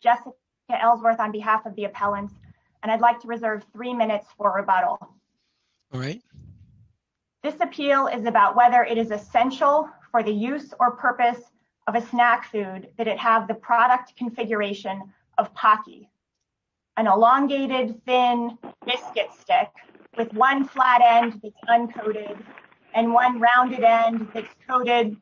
Jessica Ellsworth on behalf of the appellant and I'd like to reserve three minutes for rebuttal. This appeal is about whether it is essential for the use or purpose of a snack food that it have the product configuration of Pocky, an elongated thin biscuit stick with one flat end that's and one rounded end that's coated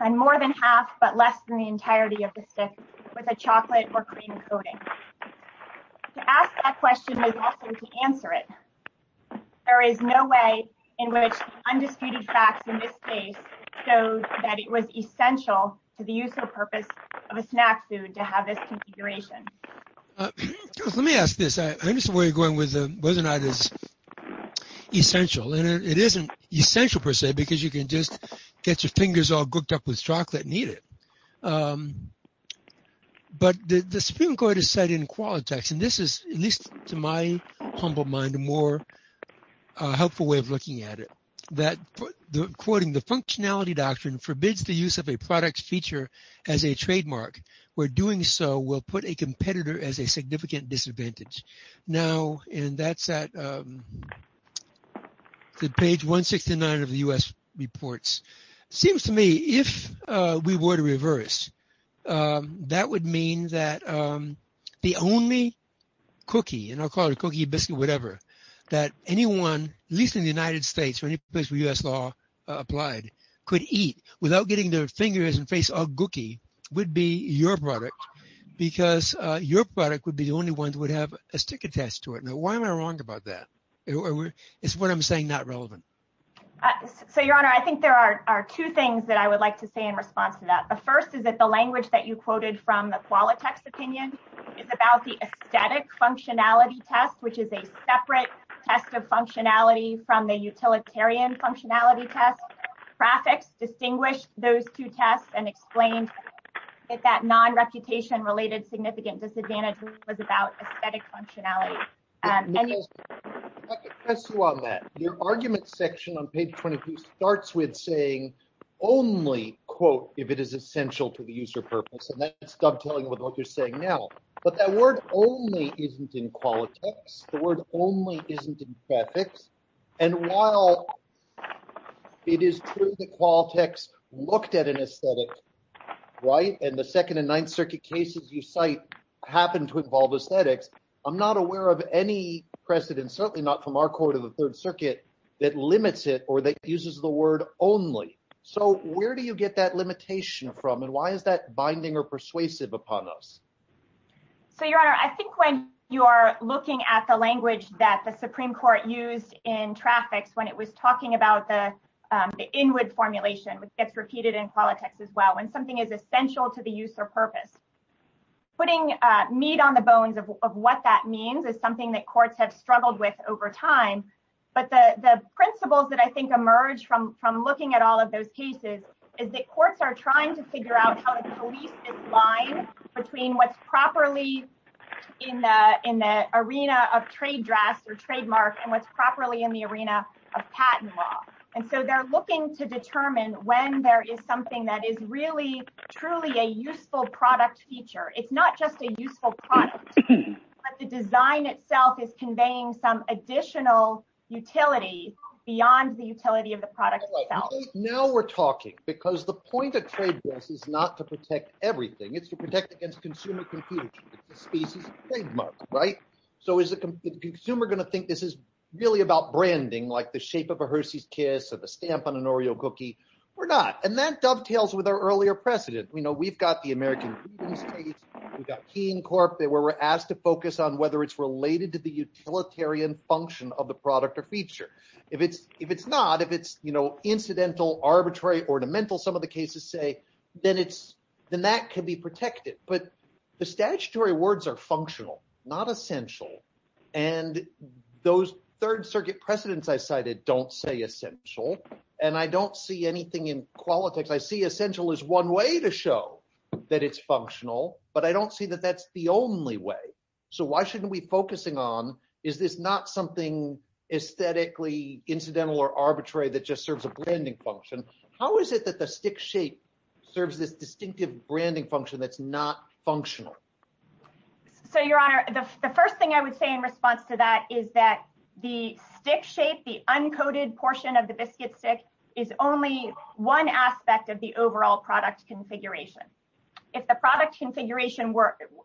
on more than half but less than the entirety of the stick with a chocolate or cream coating. To ask that question is also to answer it. There is no way in which undisputed facts in this case show that it was essential to the use of purpose of a snack food to have this configuration. Let me ask this, I understand going with whether or not it is essential and it isn't essential per se because you can just get your fingers all gooked up with chocolate and eat it. But the Supreme Court has said in Qualitex and this is at least to my humble mind a more helpful way of looking at it that the quoting the functionality doctrine forbids the use of a product feature as a trademark where doing so will put a competitor as a significant disadvantage. Now and that's at the page 169 of the U.S. reports. Seems to me if we were to reverse that would mean that the only cookie and I'll call it a cookie biscuit whatever that anyone at least in the United States or any place where U.S. law applied could eat without getting their fingers and face all gookey would be your product because your product would be the only one that would have a sticker test to it. Now why am I wrong about that? It's what I'm saying not relevant. So your honor I think there are two things that I would like to say in response to that. The first is that the language that you quoted from the Qualitex opinion is about the aesthetic functionality test which is a separate test of functionality from the utilitarian functionality test. Graphics distinguish those two tests and explain if that non-reputation related significant disadvantage was about aesthetic functionality. I could press you on that. Your argument section on page 22 starts with saying only quote if it is essential to the user purpose and that's dovetailing with what you're saying now but that word only isn't in Qualitex. The word only isn't in graphics and while it is true that Qualitex looked at an aesthetic right and the second and ninth circuit cases you cite happen to involve aesthetics I'm not aware of any precedent certainly not from our court of the third circuit that limits it or that uses the word only. So where do you get that limitation from and why is that binding or persuasive upon us? So your honor I think when you are looking at the language that the supreme court used in traffics when it was talking about the inward formulation which gets repeated in Qualitex as well when something is essential to the use or purpose putting meat on the bones of what that means is something that courts have struggled with over time but the the principles that I think emerge from from looking at all of those cases is that courts are trying to figure out how to police this line between what's properly in the arena of trade dress or trademark and what's properly in the arena of patent law and so they're looking to determine when there is something that is really truly a useful product feature. It's not just a useful product but the design itself is conveying some additional utility beyond the utility of the product itself. Now we're talking because the point of trade dress is not to protect everything it's to protect against consumer confusion. It's a species of trademark right so is the consumer going to think this is really about branding like the shape of a hersey's kiss or the stamp on an oreo cookie or not and that dovetails with our earlier precedent. We know we've got the American freedoms case, we've got Keen Corp. They were asked to focus on whether it's related to the utilitarian function of the product or feature. If it's if then that can be protected but the statutory words are functional not essential and those third circuit precedents I cited don't say essential and I don't see anything in quality. I see essential is one way to show that it's functional but I don't see that that's the only way so why shouldn't we be focusing on is this not something aesthetically incidental or distinctive branding function that's not functional? So your honor the first thing I would say in response to that is that the stick shape the uncoated portion of the biscuit stick is only one aspect of the overall product configuration. If the product configuration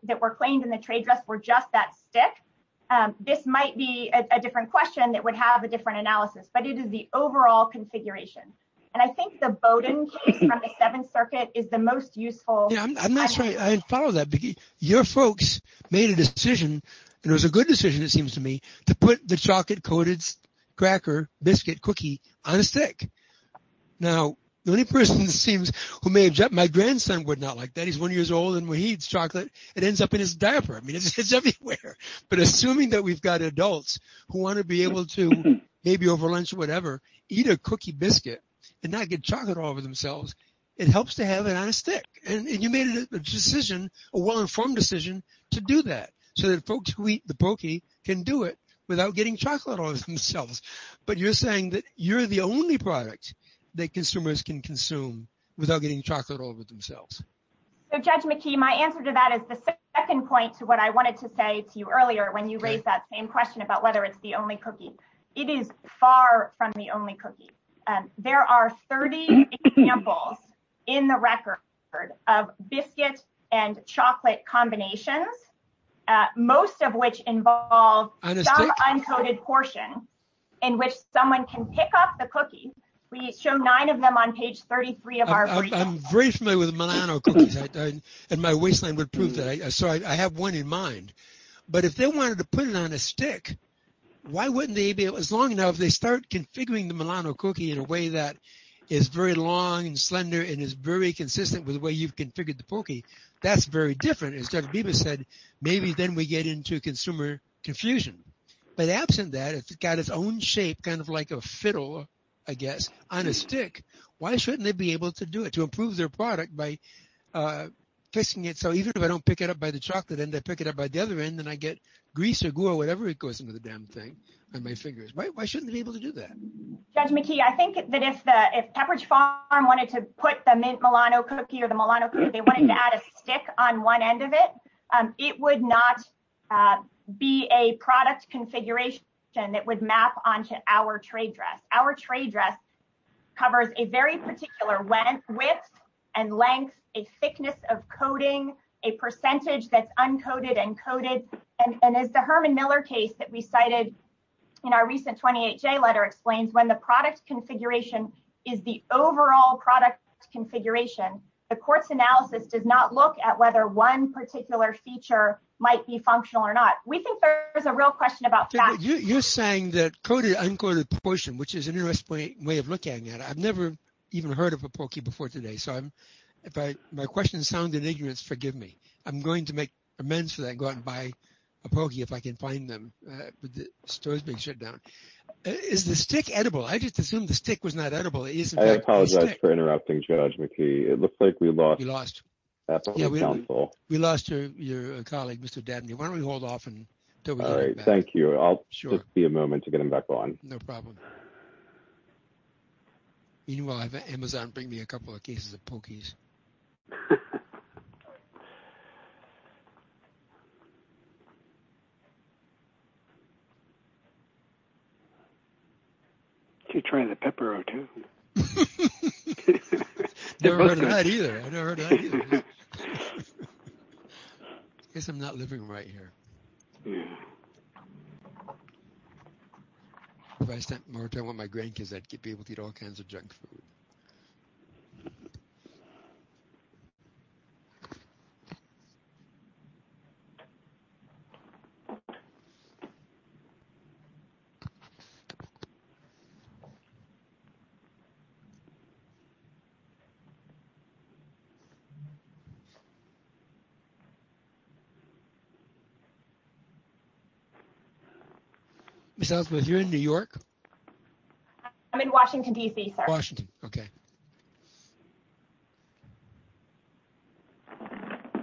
that were claimed in the trade dress were just that stick this might be a different question that would have a different analysis but it is the overall configuration and I think the most useful I'm not sure I follow that because your folks made a decision and it was a good decision it seems to me to put the chocolate coated cracker biscuit cookie on a stick. Now the only person that seems who may object my grandson would not like that he's one years old and when he eats chocolate it ends up in his diaper I mean it's everywhere but assuming that we've got adults who want to be able to maybe over lunch whatever eat a cookie biscuit and not get chocolate all over themselves it helps to have it on a stick and you made a decision a well-informed decision to do that so that folks who eat the brookie can do it without getting chocolate all over themselves but you're saying that you're the only product that consumers can consume without getting chocolate all over themselves. So Judge McKee my answer to that is the second point to what I wanted to say to you earlier when you raised that same question about whether it's the only cookie it is far from the only cookie. There are 30 examples in the record of biscuit and chocolate combinations most of which involve some uncoated portion in which someone can pick up the cookie we show nine of them on page 33 of our brief. I'm very familiar with Milano cookies and my waistline would prove that so I have one in mind but if they wanted to put it on a stick why wouldn't they be able as long now if they start configuring the Milano cookie in a way that is very long and slender and is very consistent with the way you've configured the pokey that's very different as Dr. Beebe said maybe then we get into consumer confusion but absent that it's got its own shape kind of like a fiddle I guess on a stick why shouldn't they be able to do it to improve their product by fixing it so even if I don't pick it up by the chocolate and pick it up by the other end then I get grease or gore whatever it goes into the damn thing on my fingers why shouldn't they be able to do that? Judge McKee I think that if Pepperidge Farm wanted to put the mint Milano cookie or the Milano cookie they wanted to add a stick on one end of it it would not be a product configuration that would map onto our trade dress. Our trade dress covers a very particular width and length a thickness of coating a percentage that's uncoated and coated and as the Herman Miller case that we cited in our recent 28J letter explains when the product configuration is the overall product configuration the court's analysis does not look at whether one particular feature might be functional or not. We think there's a real you're saying that coated uncoated portion which is an interesting way of looking at it I've never even heard of a pokey before today so if my questions sound in ignorance forgive me I'm going to make amends for that go out and buy a pokey if I can find them but the store's being shut down. Is the stick edible? I just assumed the stick was not edible. I apologize for interrupting Judge McKee it looks like we lost counsel. We lost your colleague Mr. Dabney why don't we hold off and all right thank you I'll just be a moment to get him back on no problem meanwhile I have Amazon bring me a couple of cases of pokies you try the pepper too I guess I'm not living right here if I spent more time with my grandkids I'd be able to eat all kinds of junk food so Miss Ellsworth you're in New York? I'm in Washington DC sir. Washington okay so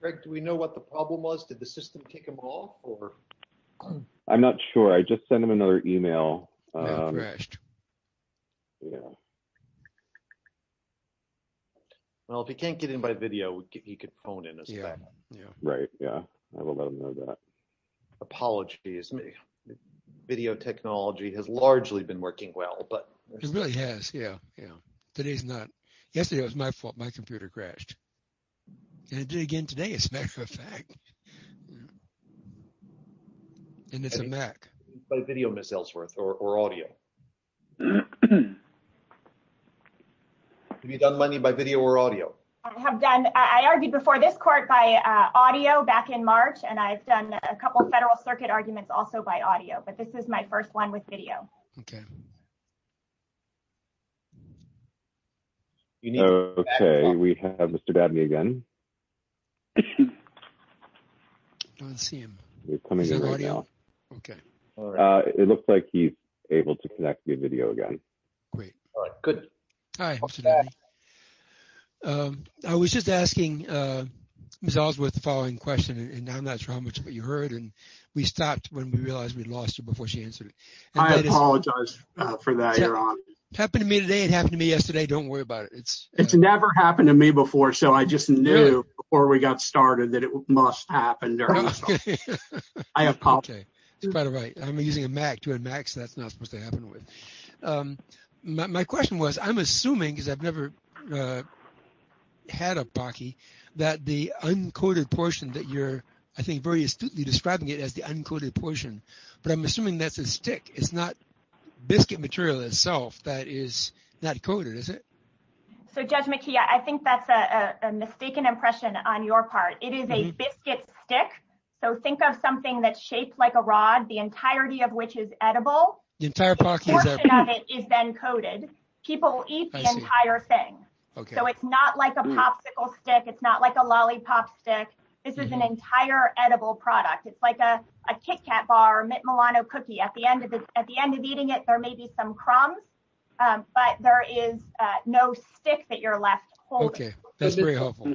Greg do we know what the problem was did the system kick him off or I'm not sure I just sent him another email yeah well if he can't get in by video he could phone in yeah yeah right yeah I will let him know that apologies me video technology has largely been working well but it really has yeah yeah today's not yesterday it was my fault my computer crashed and I did it again today as a and it's a Mac by video Miss Ellsworth or audio have you done money by video or audio I have done I argued before this court by audio back in March and I've done a couple federal circuit arguments also by audio but this is my first one with video okay you know okay we have Mr. Dabney again okay it looks like he's able to connect your video again great all right good all right I was just asking Miss Ellsworth the following question and I'm not sure how much of what you heard and we stopped when we realized we lost her before she answered it I apologize for that happened to me today it happened to me yesterday don't worry about it it's it's never happened to me before so I just knew before we got started that it must happen during I apologize by the right I'm using a Mac to a max that's not supposed to happen with my question was I'm assuming because I've never had a pocky that the uncoated portion that you're I think very astutely describing it as the uncoated portion but I'm assuming that's a stick it's not biscuit material itself that is not coated is it so Judge McKee I think that's a mistaken impression on your part it is a biscuit stick so think of something that's shaped like a rod the entirety of which is edible the entire portion of it is then coated people eat the entire thing okay so it's not like a popsicle stick it's not like a lollipop stick this is an entire edible product it's like a a KitKat bar or a mint Milano cookie at the end of it at the end of eating it there may be some crumbs but there is uh no stick that you're left okay that's very helpful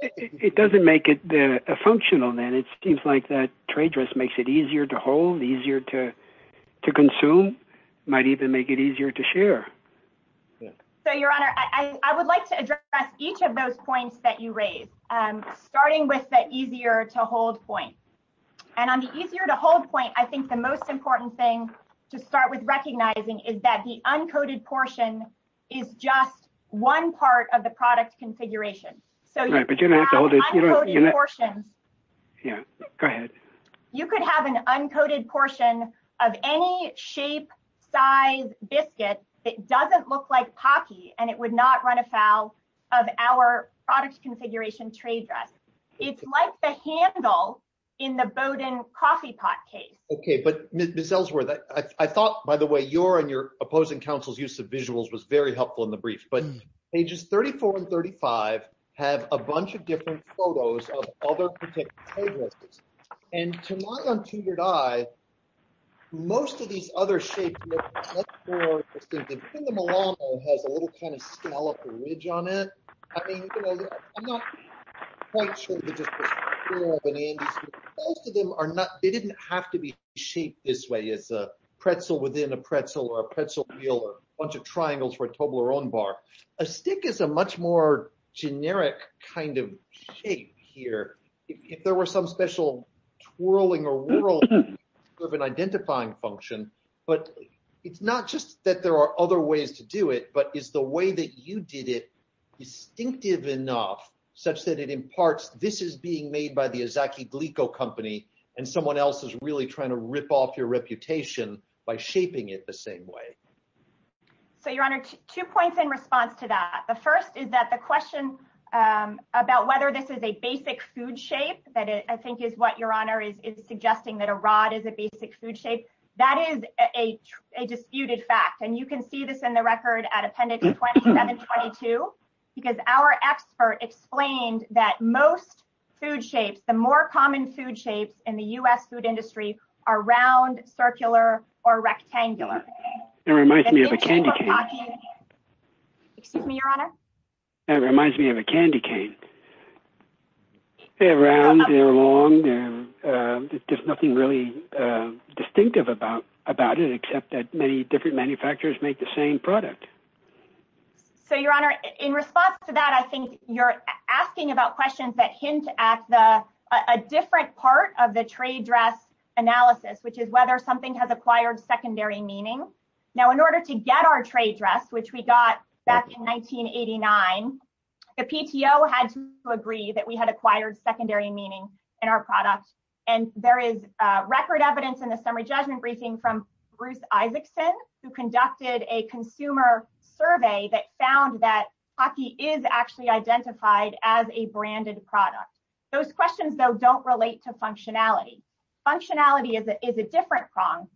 it doesn't make it a functional then it seems like that trade dress makes it easier to hold easier to to consume might even make it easier to share so your honor I I would like to address each of those points that you raise um starting with the easier to hold point and on the easier to hold point I think the most important thing to start with recognizing is that the uncoated portion is just one part of the product configuration so you're gonna have to hold it yeah go ahead you could have an uncoated portion of any shape size biscuit that doesn't look like poppy and it would not run afoul of our product configuration trade dress it's like the handle in the Bowdoin coffee pot case okay but Ms. Ellsworth I thought by the way your and your opposing counsel's use of visuals was very helpful in the brief but pages 34 and 35 have a bunch of different photos of other particular trade dresses and to my untutored eye most of these other shapes look much more interesting the Milano has a little kind of both of them are not they didn't have to be shaped this way it's a pretzel within a pretzel or a pretzel wheel or a bunch of triangles for a Toblerone bar a stick is a much more generic kind of shape here if there were some special twirling or whirl of an identifying function but it's not just that there are other ways to do it but is the way that you did it distinctive enough such that it imparts this is being made by the Izaaki Glico company and someone else is really trying to rip off your reputation by shaping it the same way so your honor two points in response to that the first is that the question about whether this is a basic food shape that I think is what your honor is is suggesting that a rod is a basic food shape that is a disputed fact and you can see this in the record at appendix 27-22 because our expert explained that most food shapes the more common food shapes in the U.S. food industry are round circular or rectangular it reminds me of a candy cane excuse me your honor that reminds me of a candy cane they're round they're long there's nothing really distinctive about about it except that many different manufacturers make the same product so your honor in response to that I think you're asking about questions that hint at the a different part of the trade dress analysis which is whether something has acquired secondary meaning now in order to get our trade dress which we got back in 1989 the PTO had to agree that we had acquired secondary meaning in our who conducted a consumer survey that found that hockey is actually identified as a branded product those questions though don't relate to functionality functionality is a different prong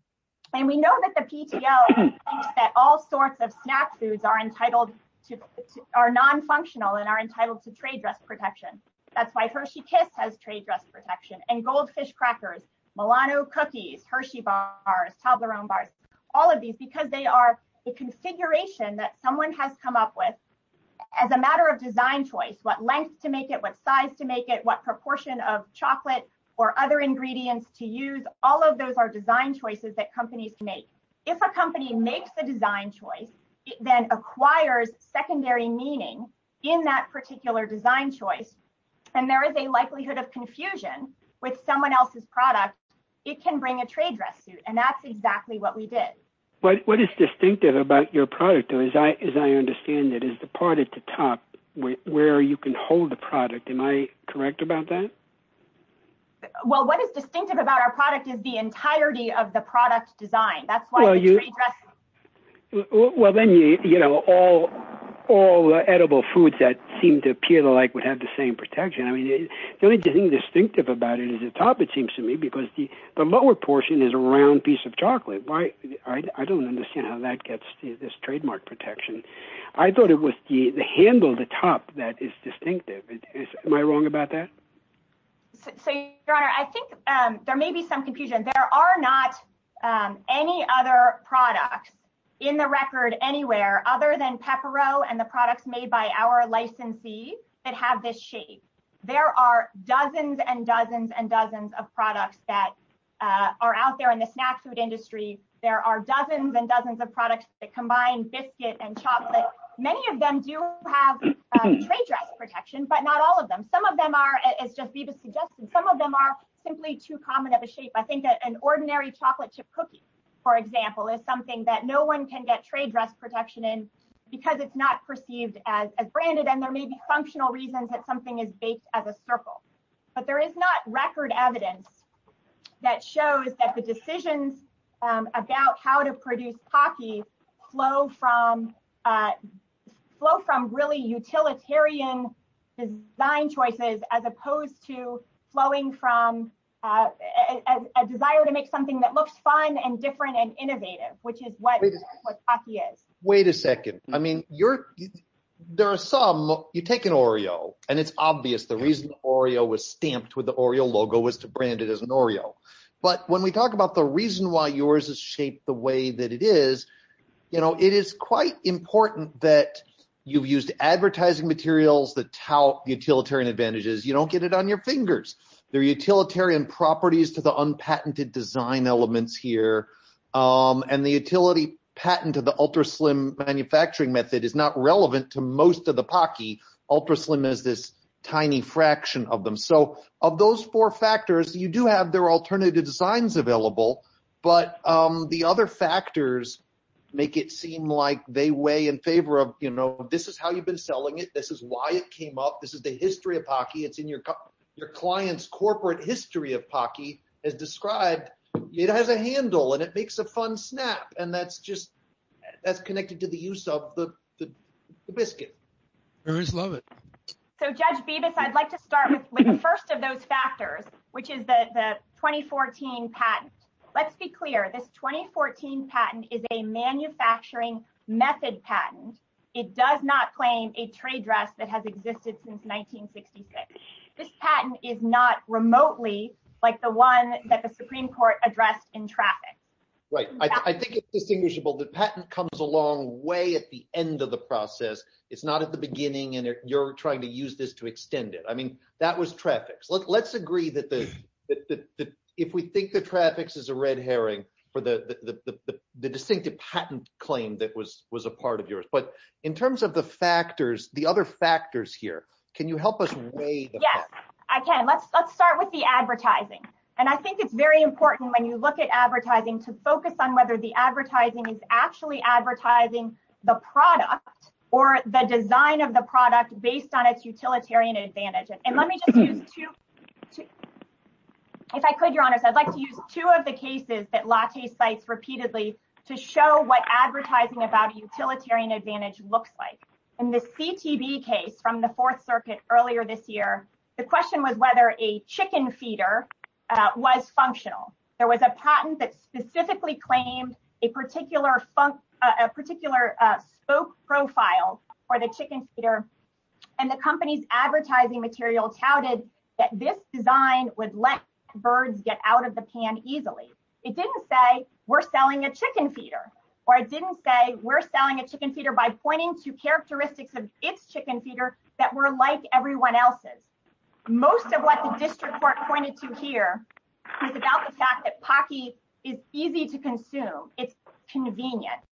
and we know that the PTO thinks that all sorts of snack foods are entitled to are non-functional and are entitled to trade dress protection that's why Hershey Kiss has trade dress protection and goldfish crackers Milano cookies Hershey bars Toblerone bars all of these because they are a configuration that someone has come up with as a matter of design choice what length to make it what size to make it what proportion of chocolate or other ingredients to use all of those are design choices that companies make if a company makes the design choice it then acquires secondary meaning in that particular design choice and there is a likelihood of confusion with someone else's product it can bring a trade dress suit and that's exactly what we did what what is distinctive about your product though as I as I understand it is the part at the top where you can hold the product am I correct about that well what is distinctive about our product is the entirety of the product design that's why you well then you you know all all the edible foods that seem to appear the like would have the same protection I mean the only thing distinctive about it is the top it seems to me because the lower portion is a round piece of chocolate why I don't understand how that gets to this trademark protection I thought it was the the handle the top that is distinctive am I wrong about that so your honor I think um there may be some confusion there are not um any other products in the record anywhere other than Pepero and the products made by our licensee that have this shape there are dozens and dozens and dozens of products that are out there in the snack food industry there are dozens and dozens of products that combine biscuit and chocolate many of them do have trade dress protection but not all of them some of them are as just beavis suggested some of them are simply too common of a shape I think an ordinary chocolate chip cookie for example is something that no one can get trade dress protection in because it's not perceived as baked as a circle but there is not record evidence that shows that the decisions about how to produce hockey flow from uh flow from really utilitarian design choices as opposed to flowing from uh a desire to make something that looks fun and different and innovative which is what hockey is wait a second I mean you're there are some you take an oreo and it's obvious the reason oreo was stamped with the oreo logo was to brand it as an oreo but when we talk about the reason why yours is shaped the way that it is you know it is quite important that you've used advertising materials that tout utilitarian advantages you don't get it on your fingers they're utilitarian properties to the unpatented design elements here and the utility patent of the ultra slim manufacturing method is not relevant to most of the pocky ultra slim is this tiny fraction of them so of those four factors you do have their alternative designs available but um the other factors make it seem like they weigh in favor of you know this is how you've been selling it this is why it came up this is history of hockey it's in your your client's corporate history of hockey as described it has a handle and it makes a fun snap and that's just that's connected to the use of the the biscuit there is love it so judge beavis i'd like to start with the first of those factors which is the the 2014 patent let's be clear this 2014 patent is a manufacturing method patent it does not claim a trade dress that has existed since 1966 this patent is not remotely like the one that the supreme court addressed in traffic right i think it's distinguishable the patent comes along way at the end of the process it's not at the beginning and you're trying to use this to extend it i mean that was traffics let's agree that the that if we think the in terms of the factors the other factors here can you help us weigh yes i can let's let's start with the advertising and i think it's very important when you look at advertising to focus on whether the advertising is actually advertising the product or the design of the product based on its utilitarian advantage and let me just use two if i could your honors i'd like to use two of the cases that latte sites repeatedly to show what advertising about a looks like in this ctb case from the fourth circuit earlier this year the question was whether a chicken feeder uh was functional there was a patent that specifically claimed a particular funk a particular uh spoke profile for the chicken feeder and the company's advertising material touted that this design would let birds get out of the pan easily it didn't say we're selling a chicken feeder by pointing to characteristics of its chicken feeder that were like everyone else's most of what the district court pointed to here is about the fact that pocky is easy to consume it's convenient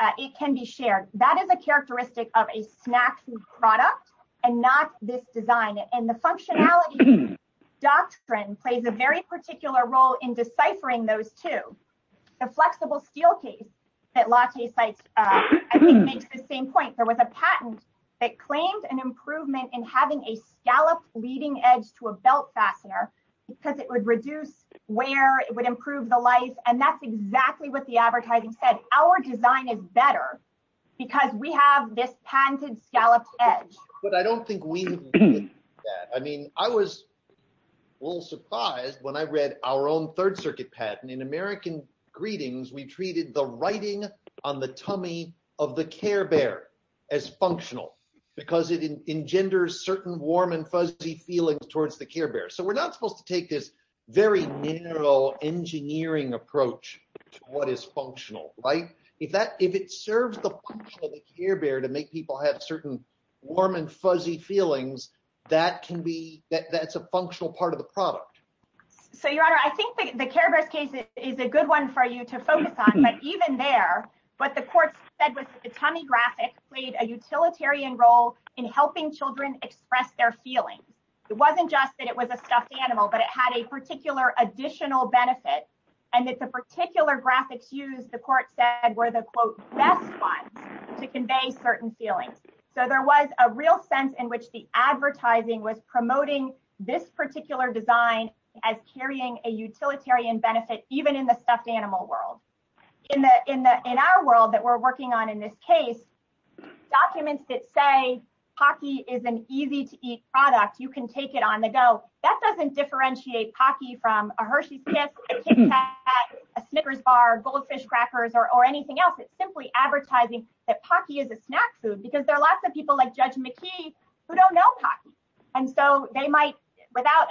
uh it can be shared that is a characteristic of a snack food product and not this design and the functionality doctrine plays a very particular role in deciphering those two the flexible steel case that latte sites uh i think makes the same point there was a patent that claimed an improvement in having a scallop leading edge to a belt fastener because it would reduce where it would improve the life and that's exactly what the advertising said our design is better because we have this patented scalloped edge but i don't think we i mean i was a little surprised when i read our own third circuit patent in american greetings we treated the writing on the tummy of the care bear as functional because it engenders certain warm and fuzzy feelings towards the care bear so we're not supposed to take this very narrow engineering approach to what is functional right if that if it serves the feelings that can be that's a functional part of the product so your honor i think the care bear's case is a good one for you to focus on but even there but the court said with the tummy graphic played a utilitarian role in helping children express their feelings it wasn't just that it was a stuffed animal but it had a particular additional benefit and that the particular graphics used the court said were the quote best ones to convey certain feelings so there was a real sense in which the advertising was promoting this particular design as carrying a utilitarian benefit even in the stuffed animal world in the in the in our world that we're working on in this case documents that say hockey is an easy to eat product you can take it on the go that doesn't differentiate hockey from a hershey's kiss a kickback a snickers bar goldfish crackers or anything else it's simply advertising that hockey is a snack food because there are lots of people like judge mckee who don't know hockey and so they might without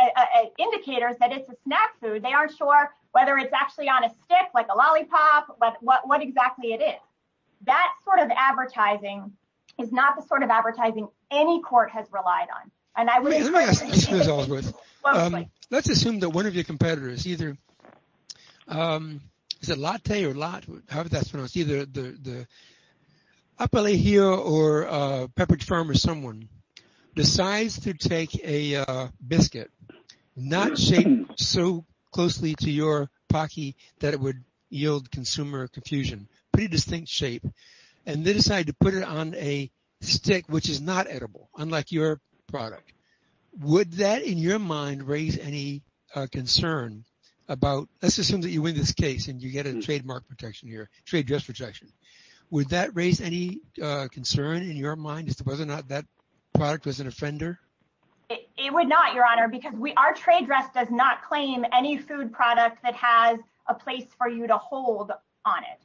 indicators that it's a snack food they aren't sure whether it's actually on a stick like a lollipop but what what exactly it is that sort of advertising is not the sort of advertising any court has relied on and i would let's assume that one of your competitors either um is it latte or lot however that's pronounced either the the appellee here or a peppered firm or someone decides to take a biscuit not shaped so closely to your pocky that it would yield consumer confusion pretty distinct shape and they decide to put it on a stick which is not edible unlike your product would that in your mind raise any uh concern about let's assume that you win this case and you get a trademark protection here trade dress rejection would that raise any uh concern in your mind as to whether or not that product was an offender it would not your honor because we our trade dress does not claim any food product that has a place for you to hold on it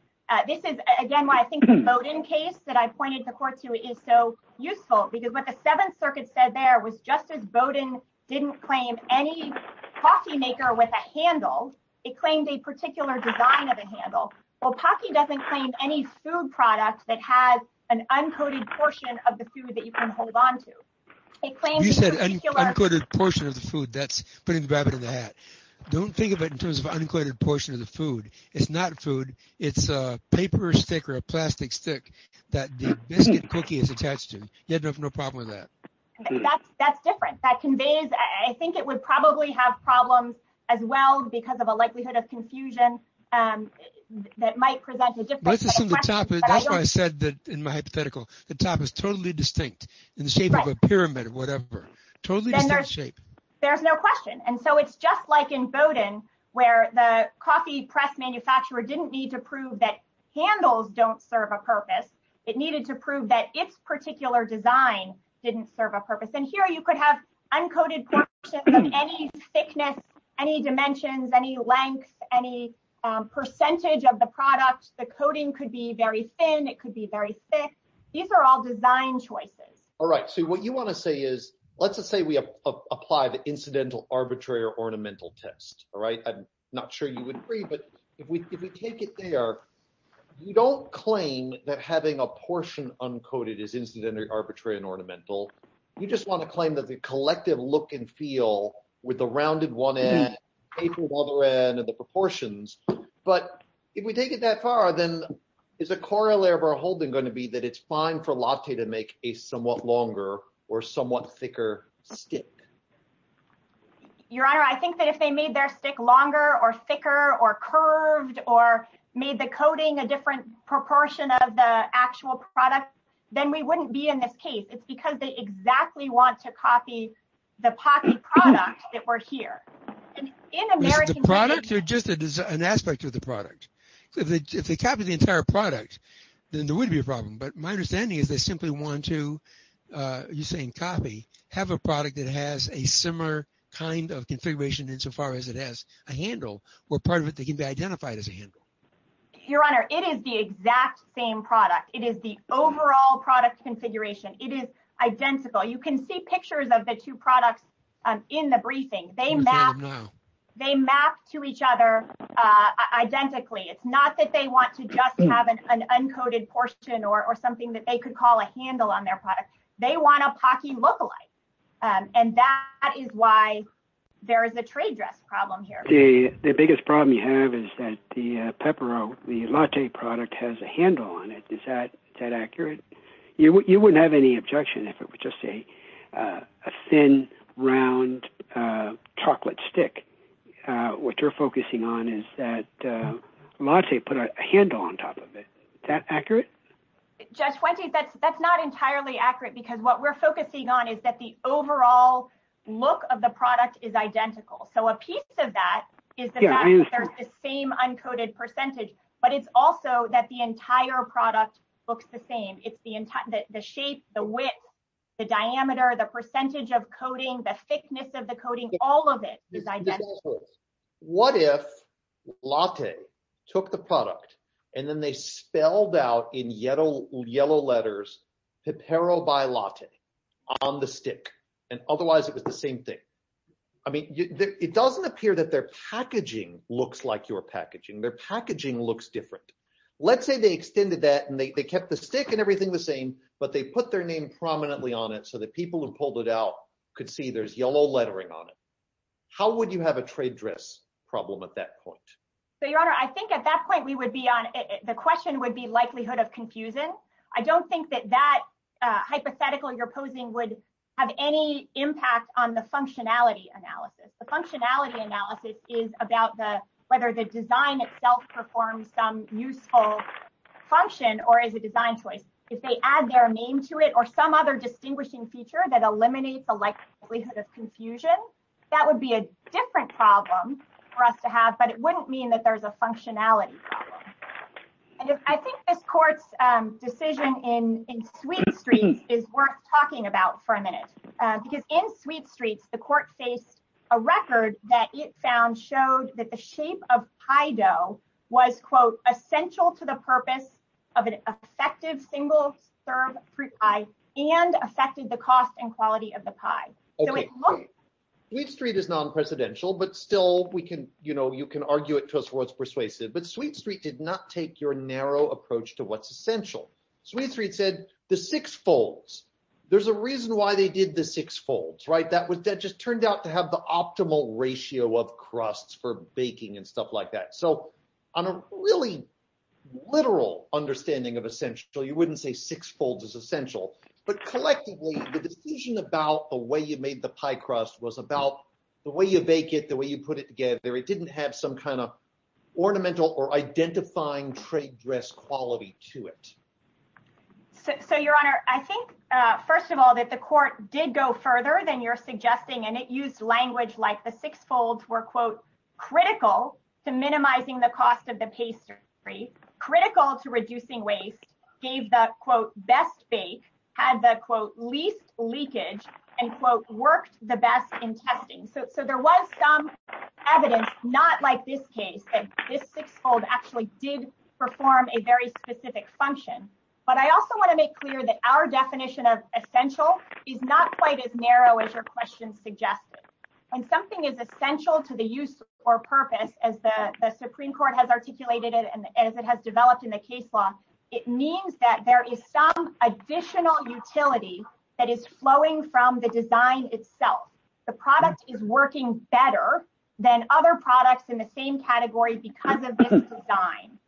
this is again why i think the modem case that i pointed the court to is so useful because what the seventh circuit said there was justice bodin didn't claim any coffee maker with a handle it claimed a particular design of a handle well pocky doesn't claim any food product that has an uncoated portion of the food that you can hold on to it claims you said uncoded portion of the food that's putting the rabbit in the hat don't think of it in terms of uncoated portion of the food it's not food it's a paper stick or a plastic stick that the biscuit cookie is attached to you have no problem with that that's that's different that conveys i think it would probably have problems as well because of a likelihood of confusion um that might present a different that's why i said that in my hypothetical the top is totally distinct in the shape of a pyramid whatever totally there's no question and so it's just like in bodin where the coffee press manufacturer didn't need to prove that handles don't serve a purpose it needed to prove that its particular design didn't serve a purpose and here you could have uncoated portions of any thickness any dimensions any length any percentage of the product the coating could be very thin it could be very thick these are all design choices all right so what you want to say is let's say we apply the incidental arbitrary or ornamental test all right i'm not sure you would agree but if we if we take it there you don't claim that having a portion uncoated is incidentally arbitrary and ornamental you just want to claim that the collective look and feel with the rounded one end paper other end and the proportions but if we take it that far then is a corollary of our holding going to be that it's fine for latte to make a somewhat longer or somewhat thicker stick your honor i think that if they made their stick longer or thicker or curved or made the coating a different proportion of the actual product then we wouldn't be in this case it's because they exactly want to copy the pocket product that we're here and in america the products are just an aspect of the product if they copy the entire product then there would be a problem but my understanding is they simply want to uh you're saying copy have a product that has a similar kind of configuration insofar as it has a handle or part of it that can be identified as a handle your honor it is the exact same product it is the overall product configuration it is identical you can see pictures of the two products in the briefing they map they map to each other uh identically it's not that they want to just have an uncoated portion or something that they could call a handle on their product they want a pocky look alike and that is why there is a trade dress problem here the the biggest problem you have is that the peppero the latte product has a handle on it is that that accurate you wouldn't have any objection if it were just a a thin round uh chocolate stick uh what you're focusing on is that latte put a handle on top of it that accurate just 20 that's that's not entirely accurate because what we're focusing on is that the overall look of the product is identical so a piece of that is the same uncoated percentage but it's also that the entire product looks the same it's the entire the shape the width the diameter the percentage of coating the thickness of the coating all of it is identical what if latte took the product and then they spelled out in yellow yellow letters peppero by latte on the stick and otherwise it was the same thing i mean it doesn't appear that their packaging looks like your packaging their packaging looks different let's say they extended that and they kept the stick and everything the same but they put their name prominently on it so that people who pulled it out could see there's yellow lettering on it how would you have a trade dress problem at that point so your honor i think at that point we would be on the question would be likelihood of confusion i don't think that that uh hypothetical you're posing would have any impact on the functionality analysis the functionality analysis is about the whether the design itself performs some useful function or is a design choice if they add their name to it or some other distinguishing feature that eliminates the likelihood of confusion that would be a different problem for us to have but wouldn't mean that there's a functionality problem and i think this court's decision in in sweet streets is worth talking about for a minute because in sweet streets the court faced a record that it found showed that the shape of pie dough was quote essential to the purpose of an effective single serve fruit pie and affected the cost and quality of the pie okay sweet street is non-presidential but still we can you know you can argue it to us what's persuasive but sweet street did not take your narrow approach to what's essential sweet street said the six folds there's a reason why they did the six folds right that was that just turned out to have the optimal ratio of crusts for baking and stuff like that so on a really literal understanding of essential you wouldn't say six folds is essential but collectively the decision about the way you made the pie crust was about the way you bake it the way you put it together it didn't have some kind of ornamental or identifying trade dress quality to it so your honor i think uh first of all that the court did go further than you're suggesting and it used language like the six folds were quote critical to minimizing the cost of the pastry critical to reducing waste gave the quote best bake had the quote least leakage and quote worked the best in testing so there was some evidence not like this case that this six fold actually did perform a very specific function but i also want to make clear that our definition of essential is not quite as narrow as your question suggested and something is essential to the use or purpose as the the supreme court has articulated it and as it has developed in the case law it means that there is some additional utility that is flowing from the design itself the product is working better than other products in the same category because of this design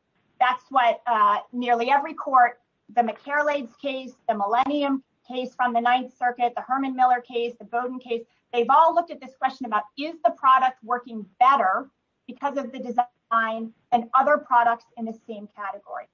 that's what uh nearly every court the mccarellades case the millennium case from the ninth circuit the herman miller case the design and other products in the same category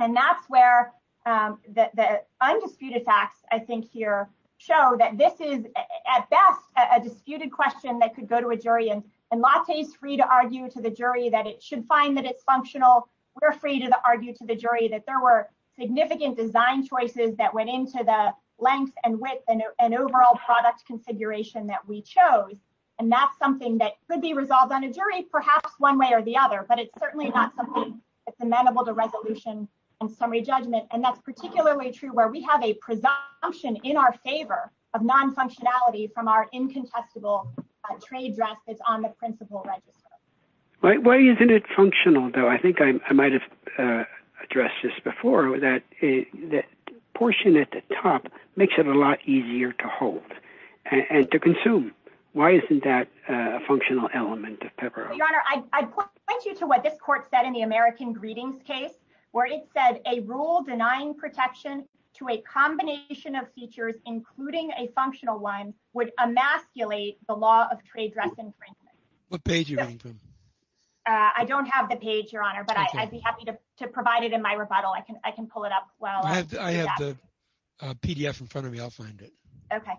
and that's where um the the undisputed facts i think here show that this is at best a disputed question that could go to a jury and and lattes free to argue to the jury that it should find that it's functional we're free to argue to the jury that there were significant design choices that went into the length and width and an overall product configuration that we chose and that's something that could be resolved on a jury perhaps one way or the other but it's certainly not something that's amenable to resolution and summary judgment and that's particularly true where we have a presumption in our favor of non-functionality from our incontestable trade dress that's on the principal register right why isn't it functional though i think i might have uh addressed this before that a that portion at the top makes it a lot easier to hold and to consume why isn't that a functional element of pepper your honor i'd point you to what this court said in the american greetings case where it said a rule denying protection to a combination of features including a functional line would emasculate the law of trade dress infringement what page you're reading from uh i don't have the page your honor but i'd be happy to to provide it in my rebuttal i can i can pull it up well i have the pdf in front of you i'll find it okay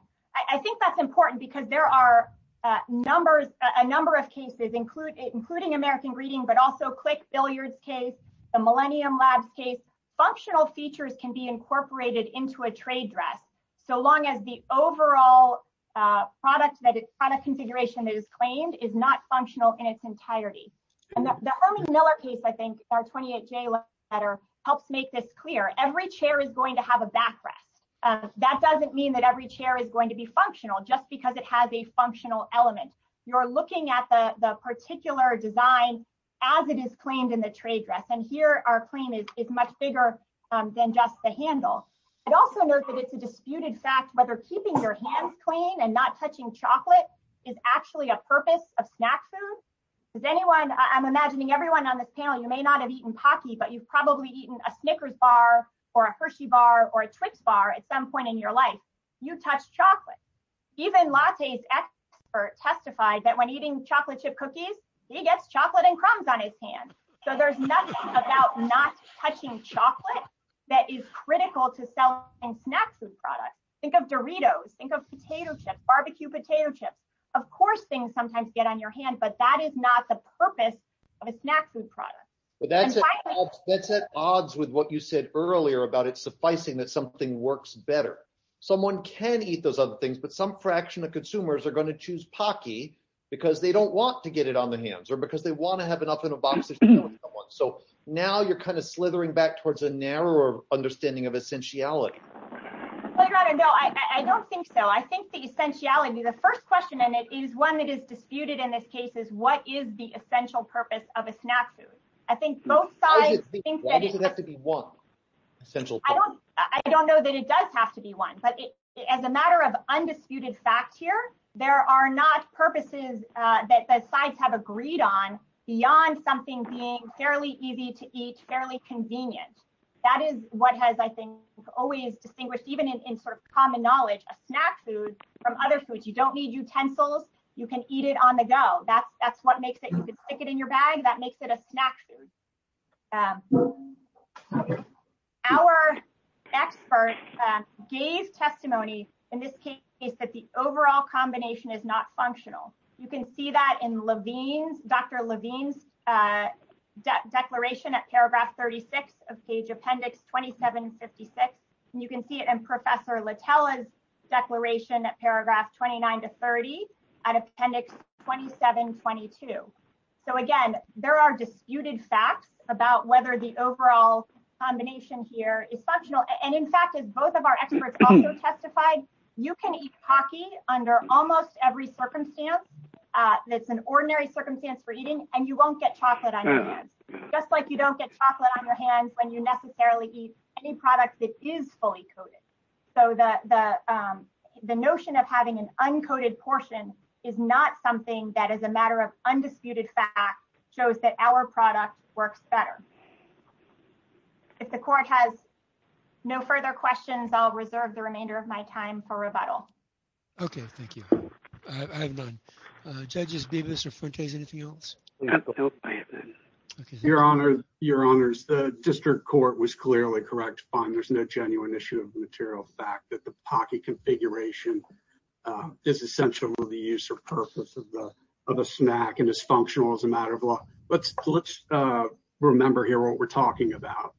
i think that's important because there are uh numbers a number of cases include including american greeting but also quick billiards case the millennium labs case functional features can be incorporated into a trade dress so long as the overall uh product that it's kind of configuration that is claimed is not functional in its entirety and the herman miller case i think our 28 j letter helps make this clear every chair is going to have a backrest that doesn't mean that every chair is going to be functional just because it has a functional element you're looking at the the particular design as it is claimed in the trade dress and here our claim is it's much bigger than just the handle i'd also note that it's a disputed fact whether keeping your hands clean and not touching chocolate is actually a purpose of snack food does anyone i'm imagining everyone on this panel you may not have eaten pocky but you've probably eaten a snickers bar or a hershey bar or a twix bar at some point in your life you touch chocolate even lattes expert testified that when eating chocolate chip cookies he gets chocolate and crumbs on his hand so there's nothing about not touching chocolate that is critical to selling snack food products think of doritos think of potato chip barbecue potato chips of course things sometimes get on your hand but that is not the purpose of a snack food product but that's it that's at odds with what you said earlier about it sufficing that something works better someone can eat those other things but some fraction of consumers are going to choose pocky because they don't want to get it on the hands or because they want to have enough in a box so now you're kind of slithering back towards a narrower understanding of essentiality but rather no i i don't think so i think the essentiality the first question and it is one that is disputed in this case is what is the essential purpose of a snack food i think both sides why does it have to be one essential i don't i don't know that it does have to be one but as a matter of undisputed fact here there are not purposes uh that the sides have agreed on beyond something being fairly easy to eat fairly convenient that is what has i think always distinguished even in sort of common knowledge a snack food from other foods you don't need utensils you can eat it on the go that's that's what makes it you can stick it in your bag that makes it a snack food our expert gays testimony in this case is that the overall combination is not functional you can see that in levine's dr levine's uh declaration at paragraph 36 of page appendix 27 56 and you can see it in professor latela's declaration at paragraph 29 to 30 at appendix 27 22 so again there are disputed facts about whether the overall combination here is functional and in fact as both of our experts also testified you can eat hockey under almost every circumstance uh that's an ordinary circumstance for eating and you won't get chocolate on your hands just like you don't get chocolate on your hands when you necessarily any product that is fully coated so that the um the notion of having an uncoated portion is not something that is a matter of undisputed fact shows that our product works better if the court has no further questions i'll reserve the remainder of my time for rebuttal okay thank you i have none uh judges beavis or frontage anything else i have been your honor your honors the district court was clearly correct to find there's no genuine issue of the material fact that the pocket configuration uh is essential to the use or purpose of the of a snack and is functional as a matter of law let's let's uh remember here what we're talking about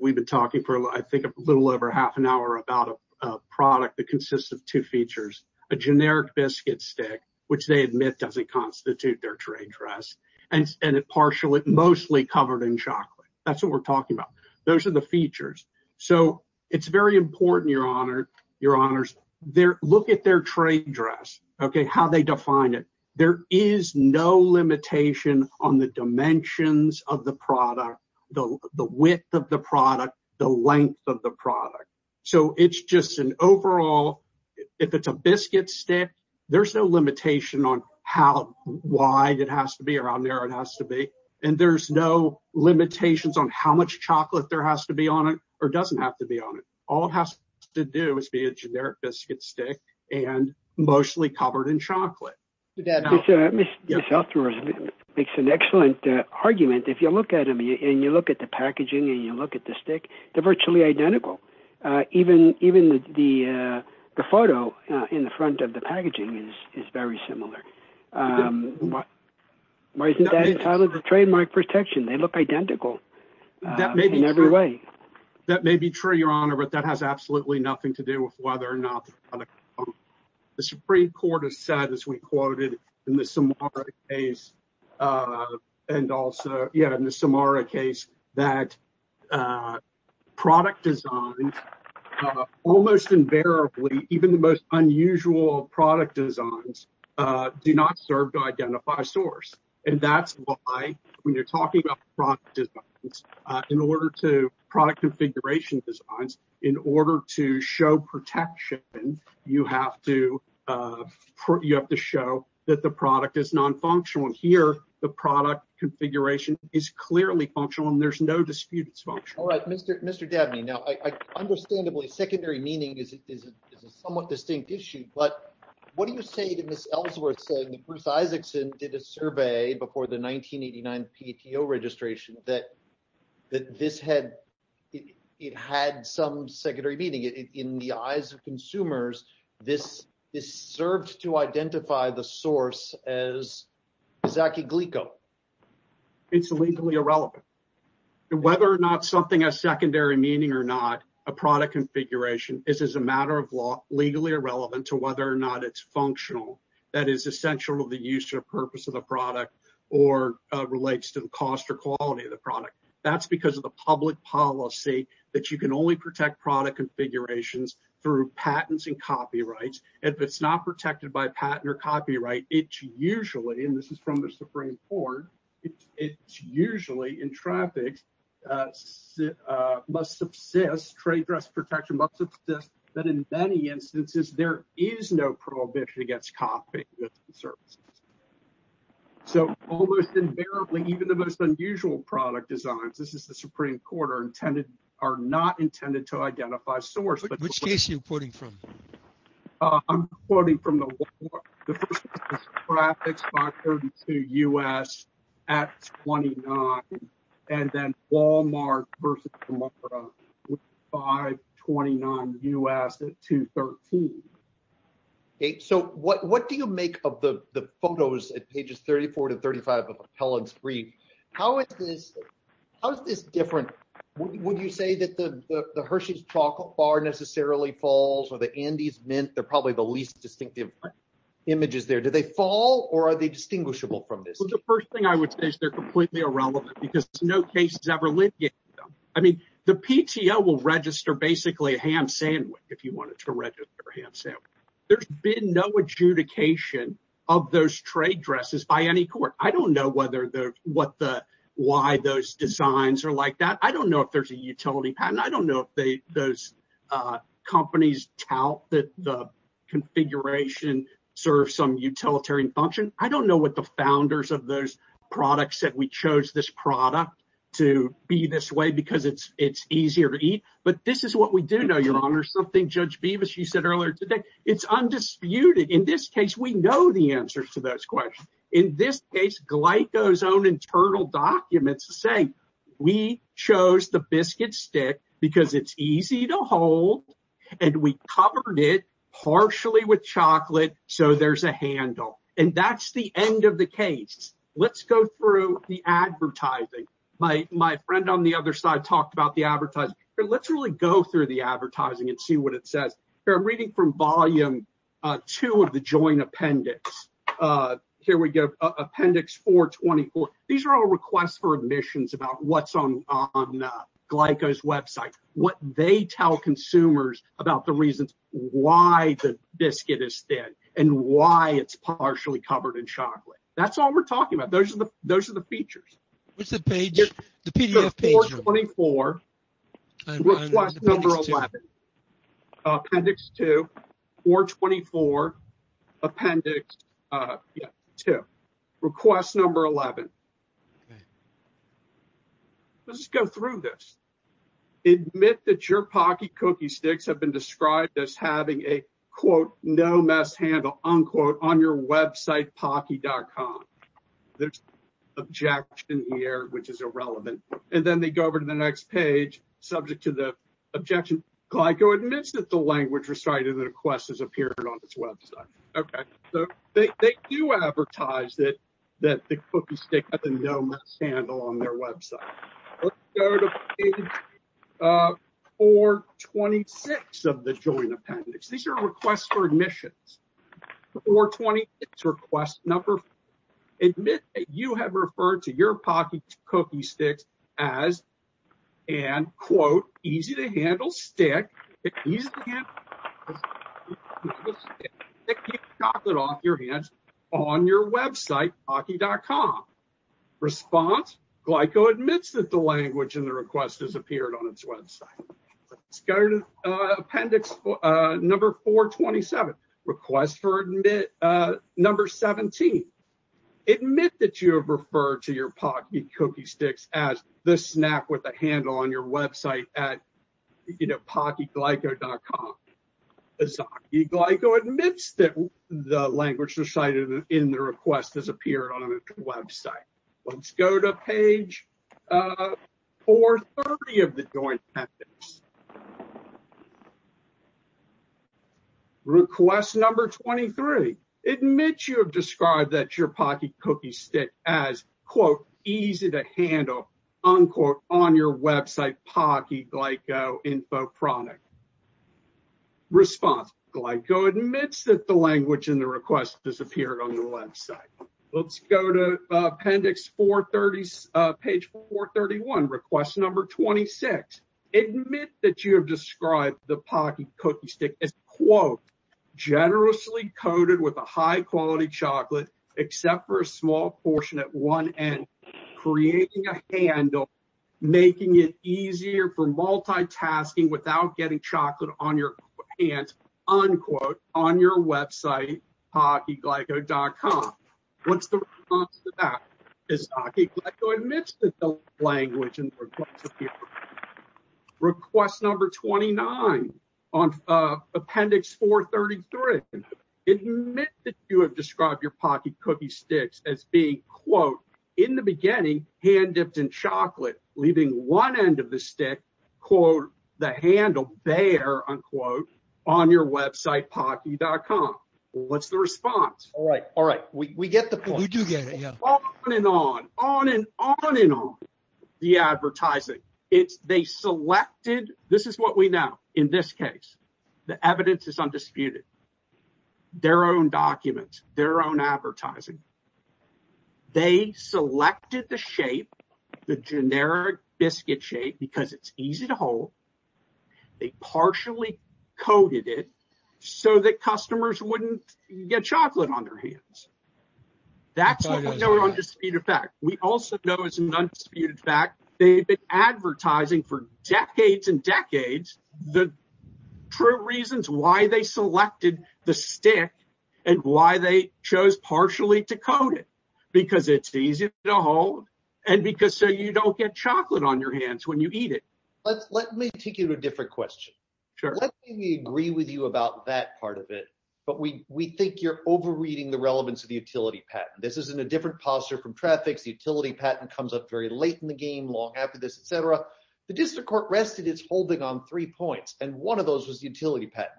we've been talking for i think a little over half an hour about a product that consists of two features a generic biscuit stick which they admit doesn't constitute their dress and and it partially mostly covered in chocolate that's what we're talking about those are the features so it's very important your honor your honors there look at their trade dress okay how they define it there is no limitation on the dimensions of the product the the width of the product the length of the product so it's just an overall if it's a biscuit stick there's no limitation on how wide it has to be around there it has to be and there's no limitations on how much chocolate there has to be on it or doesn't have to be on it all it has to do is be a generic biscuit stick and mostly covered in chocolate the dad makes an excellent argument if you look at them and you look at the packaging and you look at the stick they're virtually identical uh even even the uh the photo uh in the front of the packaging is is very similar um why isn't that a title of trademark protection they look identical that may be in every way that may be true your honor but that has absolutely nothing to do with whether or not the supreme court has said as we quoted in the samara case uh and also yeah in the case that uh product designs almost invariably even the most unusual product designs uh do not serve to identify source and that's why when you're talking about product designs in order to product configuration designs in order to show protection you have to uh you have to show that product is non-functional here the product configuration is clearly functional and there's no dispute it's functional all right mr mr dabney now i understandably secondary meaning is a somewhat distinct issue but what do you say to miss ellsworth saying that bruce isaacson did a survey before the 1989 pto registration that that this had it had some secondary meaning in the eyes of consumers this is served to identify the source as zaki glico it's legally irrelevant whether or not something has secondary meaning or not a product configuration is as a matter of law legally irrelevant to whether or not it's functional that is essential to the use or purpose of the product or relates to the cost or quality of the product that's because of the public policy that you can only protect product configurations through patents and copyrights if it's not protected by patent or copyright it's usually and this is from the supreme court it's usually in traffic uh must subsist trade dress protection must exist that in many instances there is no prohibition against copy with the services so almost invariably even the most are not intended to identify source which case you're quoting from i'm quoting from the graphics 532 us at 29 and then walmart versus tomorrow with 529 us at 213 okay so what what do you make of the the photos at pages 34 to 35 of appellant's brief how is this how is this different would you say that the the hershey's chocolate bar necessarily falls or the andy's mint they're probably the least distinctive images there do they fall or are they distinguishable from this the first thing i would say is they're completely irrelevant because no case is ever linked i mean the pto will register basically a ham sandwich if you wanted to register ham sandwich there's been no adjudication of those trade dresses by any court i don't know whether the what the why those designs are like that i don't know if there's a utility patent i don't know if they those uh companies tout that the configuration serve some utilitarian function i don't know what the founders of those products that we chose this product to be this way because it's it's easier to eat but this is what we do know your honor something judge beavis you said earlier today it's undisputed in this case we know the answer to those questions in this case glycosone internal documents say we chose the biscuit stick because it's easy to hold and we covered it partially with chocolate so there's a handle and that's the end of the case let's go through the advertising my my friend on the other side talked about the advertising but let's really go through the advertising and see what it says here i'm reading from volume uh two of the joint appendix uh here we go appendix 424 these are all requests for admissions about what's on on uh glycos website what they tell consumers about the reasons why the biscuit is thin and why it's partially covered in chocolate that's all we're talking about those are the those are the features what's the page the pdf page 24 request number 11 appendix 2 424 appendix uh yeah 2 request number 11 let's go through this admit that your pocky cookie sticks have been described as having a quote no mess handle unquote on your website pocky.com there's objection here which is subject to the objection glyco admits that the language recited in the request has appeared on its website okay so they they do advertise that that the cookie stick has a no mess handle on their website let's go to page 426 of the joint appendix these are requests for admissions 426 request number admit that you have referred to your pocky cookie sticks as and quote easy to handle stick chocolate off your hands on your website pocky.com response glyco admits that the for admit uh number 17 admit that you have referred to your pocky cookie sticks as the snack with a handle on your website at you know pocky glyco.com admits that the language recited in the request has appeared on its website let's go to page 430 of the joint appendix request number 23 admit you have described that your pocky cookie stick as quote easy to handle unquote on your website pocky glyco info chronic response glyco admits that the language in the request has appeared on the website let's go to appendix 430 uh page 431 request number 26 admit that you have described the pocky cookie stick as quote generously coated with a high quality chocolate except for a small portion at one end creating a handle making it easier for multitasking without getting chocolate on your hands unquote on your website pocky glyco.com what's the response to that is hockey glyco admits that the language in the request request number 29 on uh appendix 433 admit that you have described your pocky cookie sticks as being quote in the beginning hand dipped in chocolate leaving one end of the stick quote the handle bear unquote on your website pocky.com what's the response all right all right we get the point we do get it yeah on and on on and on and on the advertising it's they selected this is what we know in this case the evidence is undisputed their own documents their own advertising they selected the shape the generic biscuit shape because it's easy to hold they partially coated it so that customers wouldn't get chocolate on their hands that's no undisputed fact we also know as an undisputed fact they've been advertising for decades and decades the true reasons why they selected the stick and why they chose partially to coat it because it's easy to hold and because so you don't get chocolate on your hands when you take you to a different question sure let me agree with you about that part of it but we we think you're overreading the relevance of the utility patent this is in a different posture from traffic's utility patent comes up very late in the game long after this etc the district court rested its holding on three points and one of those was utility patent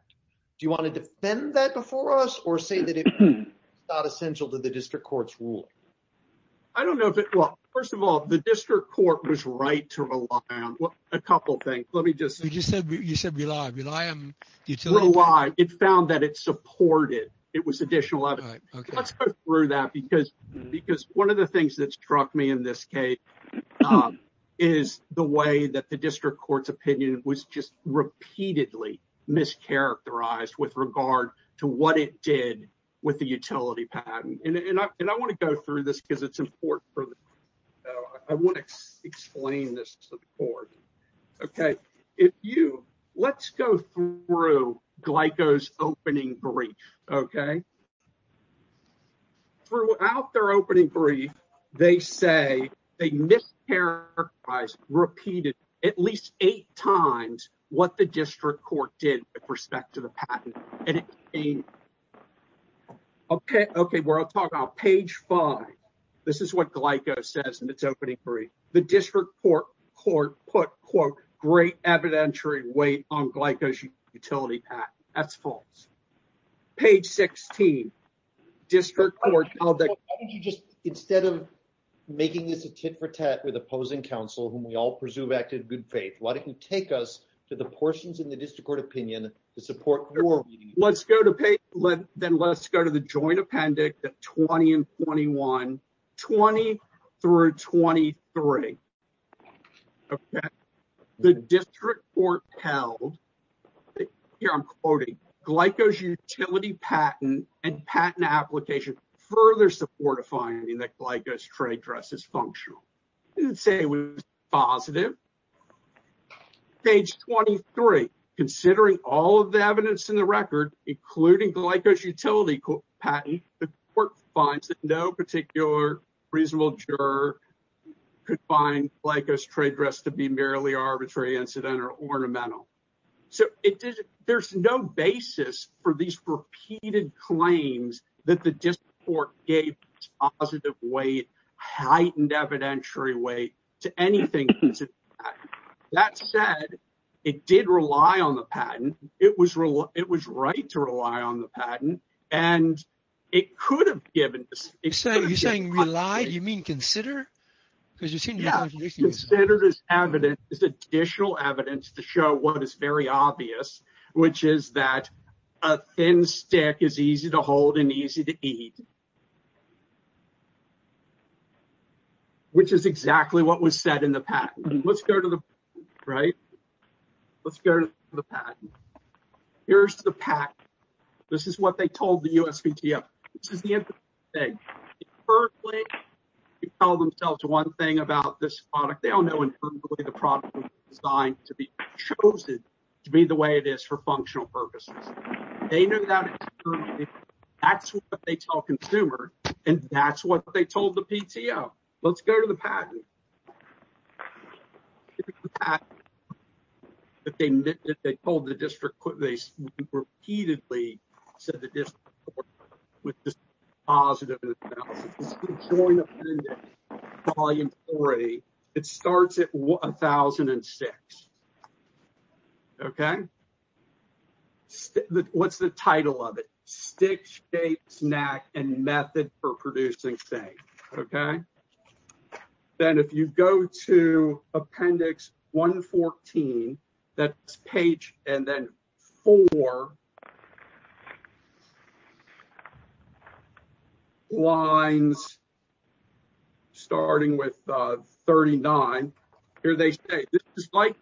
do you want to defend that before us or say that it's not essential to the district court's ruling i don't know if it well first of all the district court was right to rely on a couple things let me just you just said you said rely rely on utility why it found that it supported it was additional okay let's go through that because because one of the things that struck me in this case is the way that the district court's opinion was just repeatedly mischaracterized with regard to what it did with the utility patent and i and i want to go through this because it's important for the i want to explain this to the court okay if you let's go through glycos opening brief okay throughout their opening brief they say they mischaracterized repeated at least eight times what the district court did with page five this is what glyco says in its opening brief the district court court put quote great evidentiary weight on glycos utility patent that's false page 16 district court how did you just instead of making this a tit-for-tat with opposing counsel whom we all presume acted in good faith why don't you take us to the portions in the district court opinion to support more let's go then let's go to the joint appendix at 20 and 21 20 through 23 okay the district court held here i'm quoting glycos utility patent and patent application further support of finding that glycos trade dress is functional didn't say it was positive page 23 considering all of the evidence in the record including glycos utility patent the court finds that no particular reasonable juror could find glycos trade dress to be merely arbitrary incident or ornamental so it didn't there's no basis for these repeated claims that the that said it did rely on the patent it was real it was right to rely on the patent and it could have given us you're saying you're saying relied you mean consider because you seem to consider this evidence is additional evidence to show what is very obvious which is that a thin stick is easy to hold and easy to eat which is exactly what was said in the patent let's go to the right let's go to the patent here's the pack this is what they told the usb tf this is the interesting thing firstly they tell themselves one thing about this product they all know internally the product was designed to be chosen to be the way it is for functional purposes they knew that that's what they tell consumer and that's what they told the pto let's go to the patent that they they told the district they repeatedly said the district was just positive volume 40 it starts at 1006 okay okay what's the title of it stick shape snack and method for producing say okay then if you go to appendix 114 that's page and then four lines starting with uh 39 here they say this is like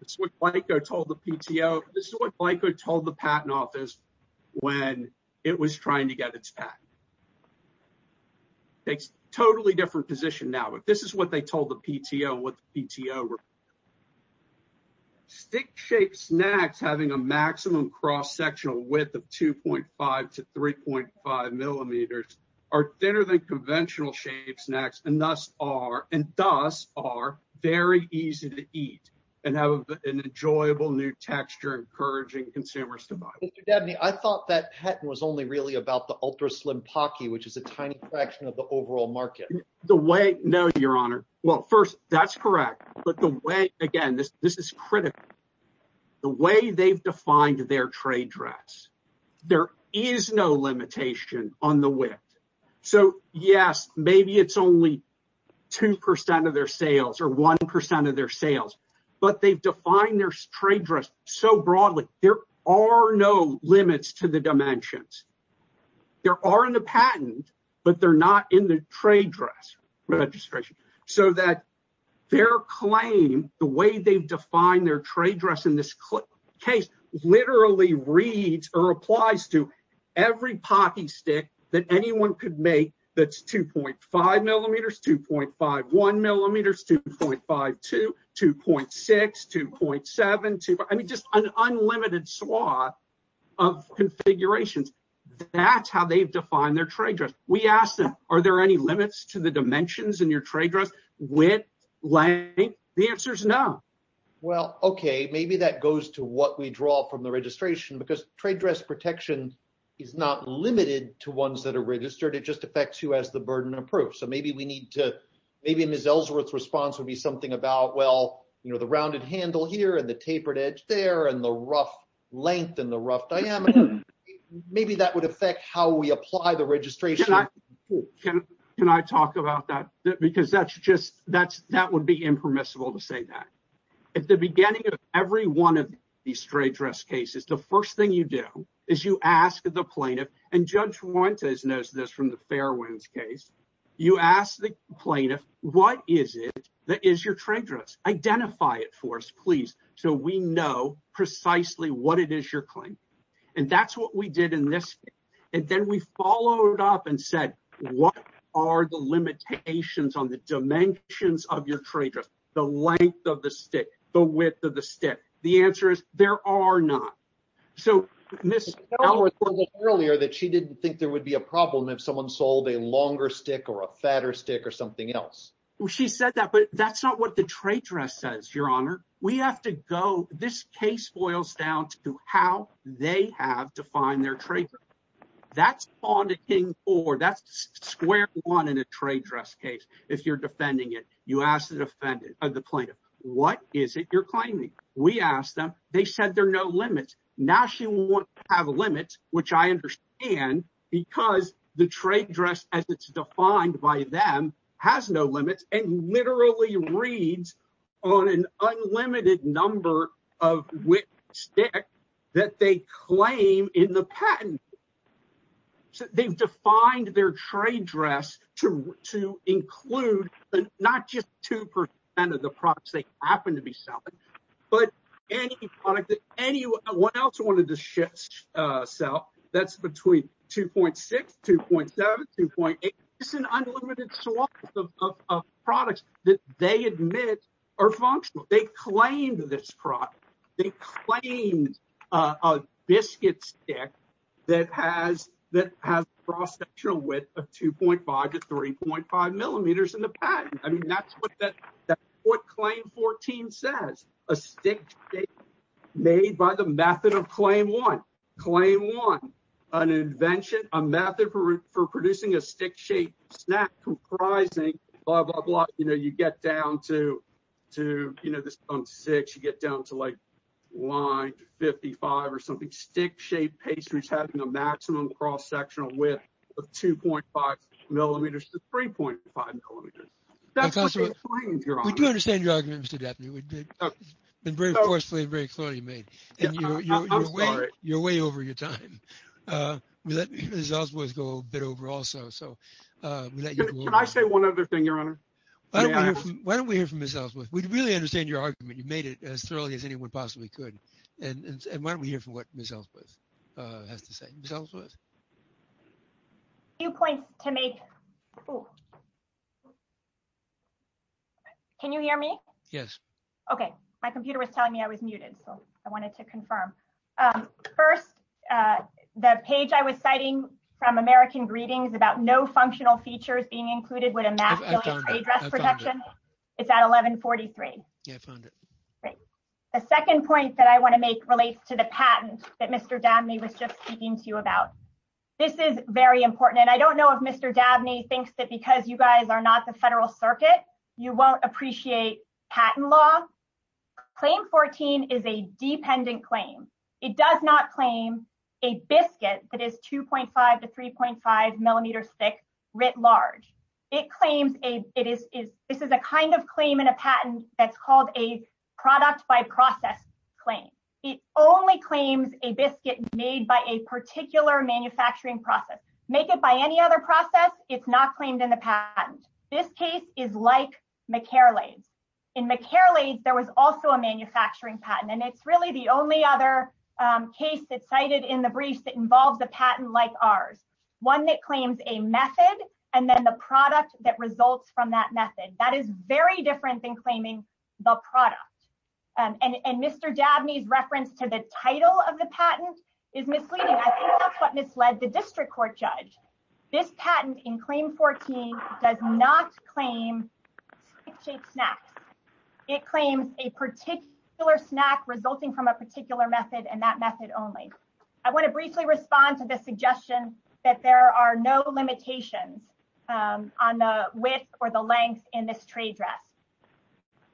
this is what blanco told the pto this is what blanco told the patent office when it was trying to get its pack it's totally different position now if this is what they told the pto what the pto referred to stick shaped snacks having a maximum cross-sectional width of 2.5 to 3.5 millimeters are thinner than conventional shaped snacks and thus are and thus are very easy to eat and have an enjoyable new texture encouraging consumers to buy mr debney i thought that patent was only really about the ultra slim pocky which is a tiny fraction of the overall market the way no your honor well first that's correct but the way again this this is critical the way they've defined their trade dress there is no limitation on the width so yes maybe it's only two percent of their sales or one percent of their sales but they've defined their trade dress so broadly there are no limits to the dimensions there are in the patent but they're not in the trade dress registration so that their claim the way they've defined their trade dress in this case literally reads or applies to every poppy stick that anyone could make that's 2.5 millimeters 2.51 millimeters 2.52 2.6 2.7 i mean just an unlimited swath of configurations that's how they've defined their trade dress we ask them are there any limits to the dimensions in your trade dress width length the answer is no well okay maybe that goes to what we draw from the registration because trade dress protection is not limited to ones that are registered it just affects who has the burden of proof so maybe we need to maybe miss elizabeth's response would be something about well you know the rounded handle here and the tapered edge there and the rough length and the rough diameter maybe that would affect how we apply the registration can can i talk about that because that's just that's that would be impermissible to say that at the beginning of every one of these trade dress cases the first thing you do is you ask the plaintiff and judge fuentes knows this from the fair winds case you ask the plaintiff what is it that is your trade identify it for us please so we know precisely what it is your claim and that's what we did in this and then we followed up and said what are the limitations on the dimensions of your trade dress the length of the stick the width of the stick the answer is there are not so miss earlier that she didn't think there would be a problem if someone sold a longer stick or a fatter stick or something else well she said that but that's not what the trade dress says your honor we have to go this case boils down to how they have defined their trade that's fond of king four that's square one in a trade dress case if you're defending it you ask the defendant of the plaintiff what is it you're claiming we asked them they said there are no limits now she won't have limits which i understand because the trade dress as it's defined by them has no limits and literally reads on an unlimited number of stick that they claim in the patent so they've defined their trade dress to to include but not just two percent of the products they happen to be selling but any product that anyone else wanted to shift uh sell that's between 2.6 2.7 2.8 it's an unlimited swath of products that they admit are functional they claimed this product they claimed a biscuit stick that has that has cross sectional width of 2.5 to 3.5 millimeters i mean that's what that what claim 14 says a stick shape made by the method of claim one claim one an invention a method for producing a stick shape snack comprising blah blah you know you get down to to you know this on six you get down to like line 55 or something stick pastries having a maximum cross-sectional width of 2.5 millimeters to 3.5 millimeters we do understand your argument mr daphne we did been very forcefully very clearly made and you're you're way you're way over your time uh we let these boys go a bit over also so uh can i say one other thing your honor why don't we hear from myself we'd really understand your argument you made it as thoroughly as anyone possibly could and and why don't we hear from myself with uh has to say results with a few points to make can you hear me yes okay my computer was telling me i was muted so i wanted to confirm um first uh the page i was citing from american greetings about no functional features being included with a mask address protection it's at 11 43 i found it right the second point that i want to make relates to the patent that mr daphne was just speaking to you about this is very important and i don't know if mr daphne thinks that because you guys are not the federal circuit you won't appreciate patent law claim 14 is a dependent claim it does not claim a biscuit that is 2.5 to 3.5 millimeters thick writ large it claims a it is is this is a kind of claim in a patent that's called a product by process claim it only claims a biscuit made by a particular manufacturing process make it by any other process it's not claimed in the patent this case is like mccarellades in mccarellades there was also a manufacturing patent and it's really the only other um case that cited in the briefs that involves a patent like ours one that claims a method and then the product that results from that method that is very different than claiming the product and and and mr daphne's reference to the title of the patent is misleading i think that's what misled the district court judge this patent in claim 14 does not claim shake snacks it claims a particular snack resulting from a particular method and that method only i want to briefly respond to the suggestion that there are no limitations um on the width or the length in this trade dress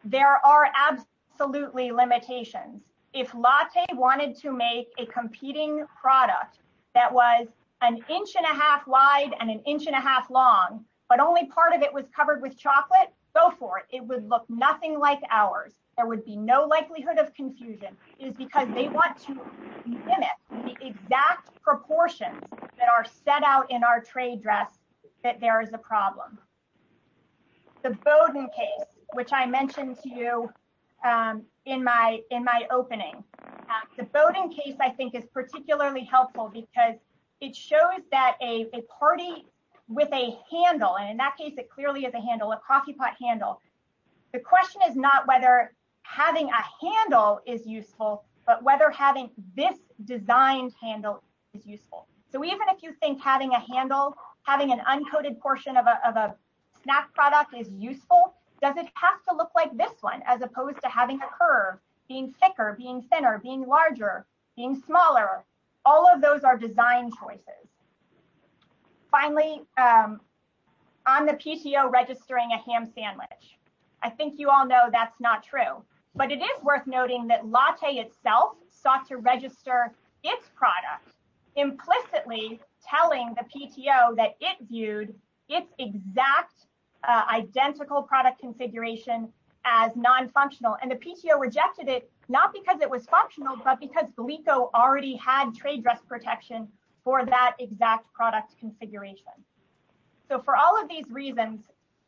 there are absolutely limitations if latte wanted to make a competing product that was an inch and a half wide and an inch and a half long but only part of it was covered with chocolate go for it it would look nothing like ours there would be no likelihood is because they want to limit the exact proportions that are set out in our trade dress that there is a problem the bowden case which i mentioned to you um in my in my opening the bowden case i think is particularly helpful because it shows that a party with a handle and in that case it clearly is a handle a coffee pot handle the question is not whether having a handle is useful but whether having this designed handle is useful so even if you think having a handle having an uncoated portion of a snack product is useful does it have to look like this one as opposed to having a curve being thicker being thinner being larger being smaller all of those are design choices finally um on the pto registering a ham sandwich i think you all know that's not true but it is worth noting that latte itself sought to register its product implicitly telling the pto that it viewed its exact identical product configuration as non-functional and the pto rejected it not because it was functional but because the leco already had trade dress protection for that exact product configuration so for all of these reasons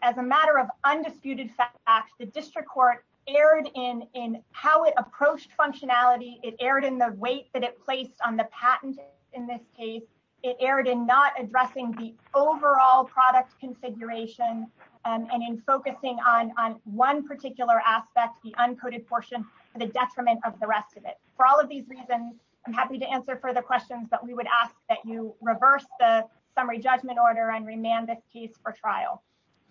as a matter of undisputed fact the district court erred in in how it approached functionality it erred in the weight that it placed on the patent in this case it erred in not addressing the overall product configuration and in focusing on on one particular aspect the uncoated portion and the detriment of the rest of it for all of these reasons i'm happy to answer further questions but we would ask that you reverse the summary judgment order and remand this case for trial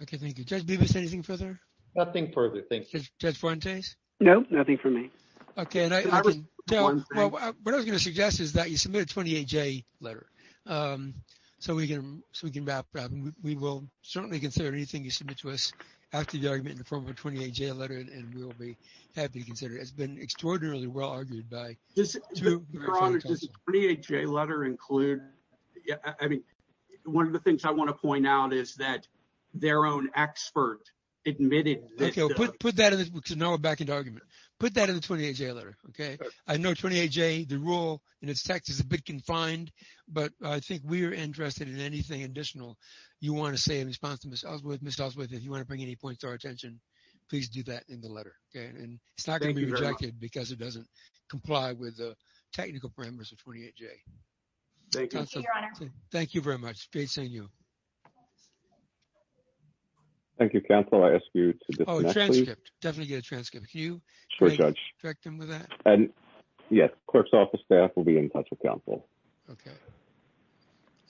okay thank you judge beavis anything further nothing further thank you judge fuentes no nothing for me okay and i was what i was going to suggest is that you submit a 28j letter um so we can so we can wrap up and we will certainly consider anything you submit to us after the argument in the form of a 28j letter and we will be happy to consider it has been extraordinarily well argued by this 28j letter include yeah i mean one of the things i want to point out is that their own expert admitted okay we'll put put that in this because now we're back into argument put that in the 28j letter okay i know 28j the rule and its text is a bit confined but i think we are interested in anything additional you want to say in response to miss elizabeth miss elizabeth if you want to bring any points to our attention please do that in the letter okay and it's not going to be rejected because it doesn't comply with the technical parameters of 28j thank you your honor thank you very much great seeing you thank you counsel i ask you to definitely get a transcript can you check them with that and yes clerk's office staff will be in touch with counsel okay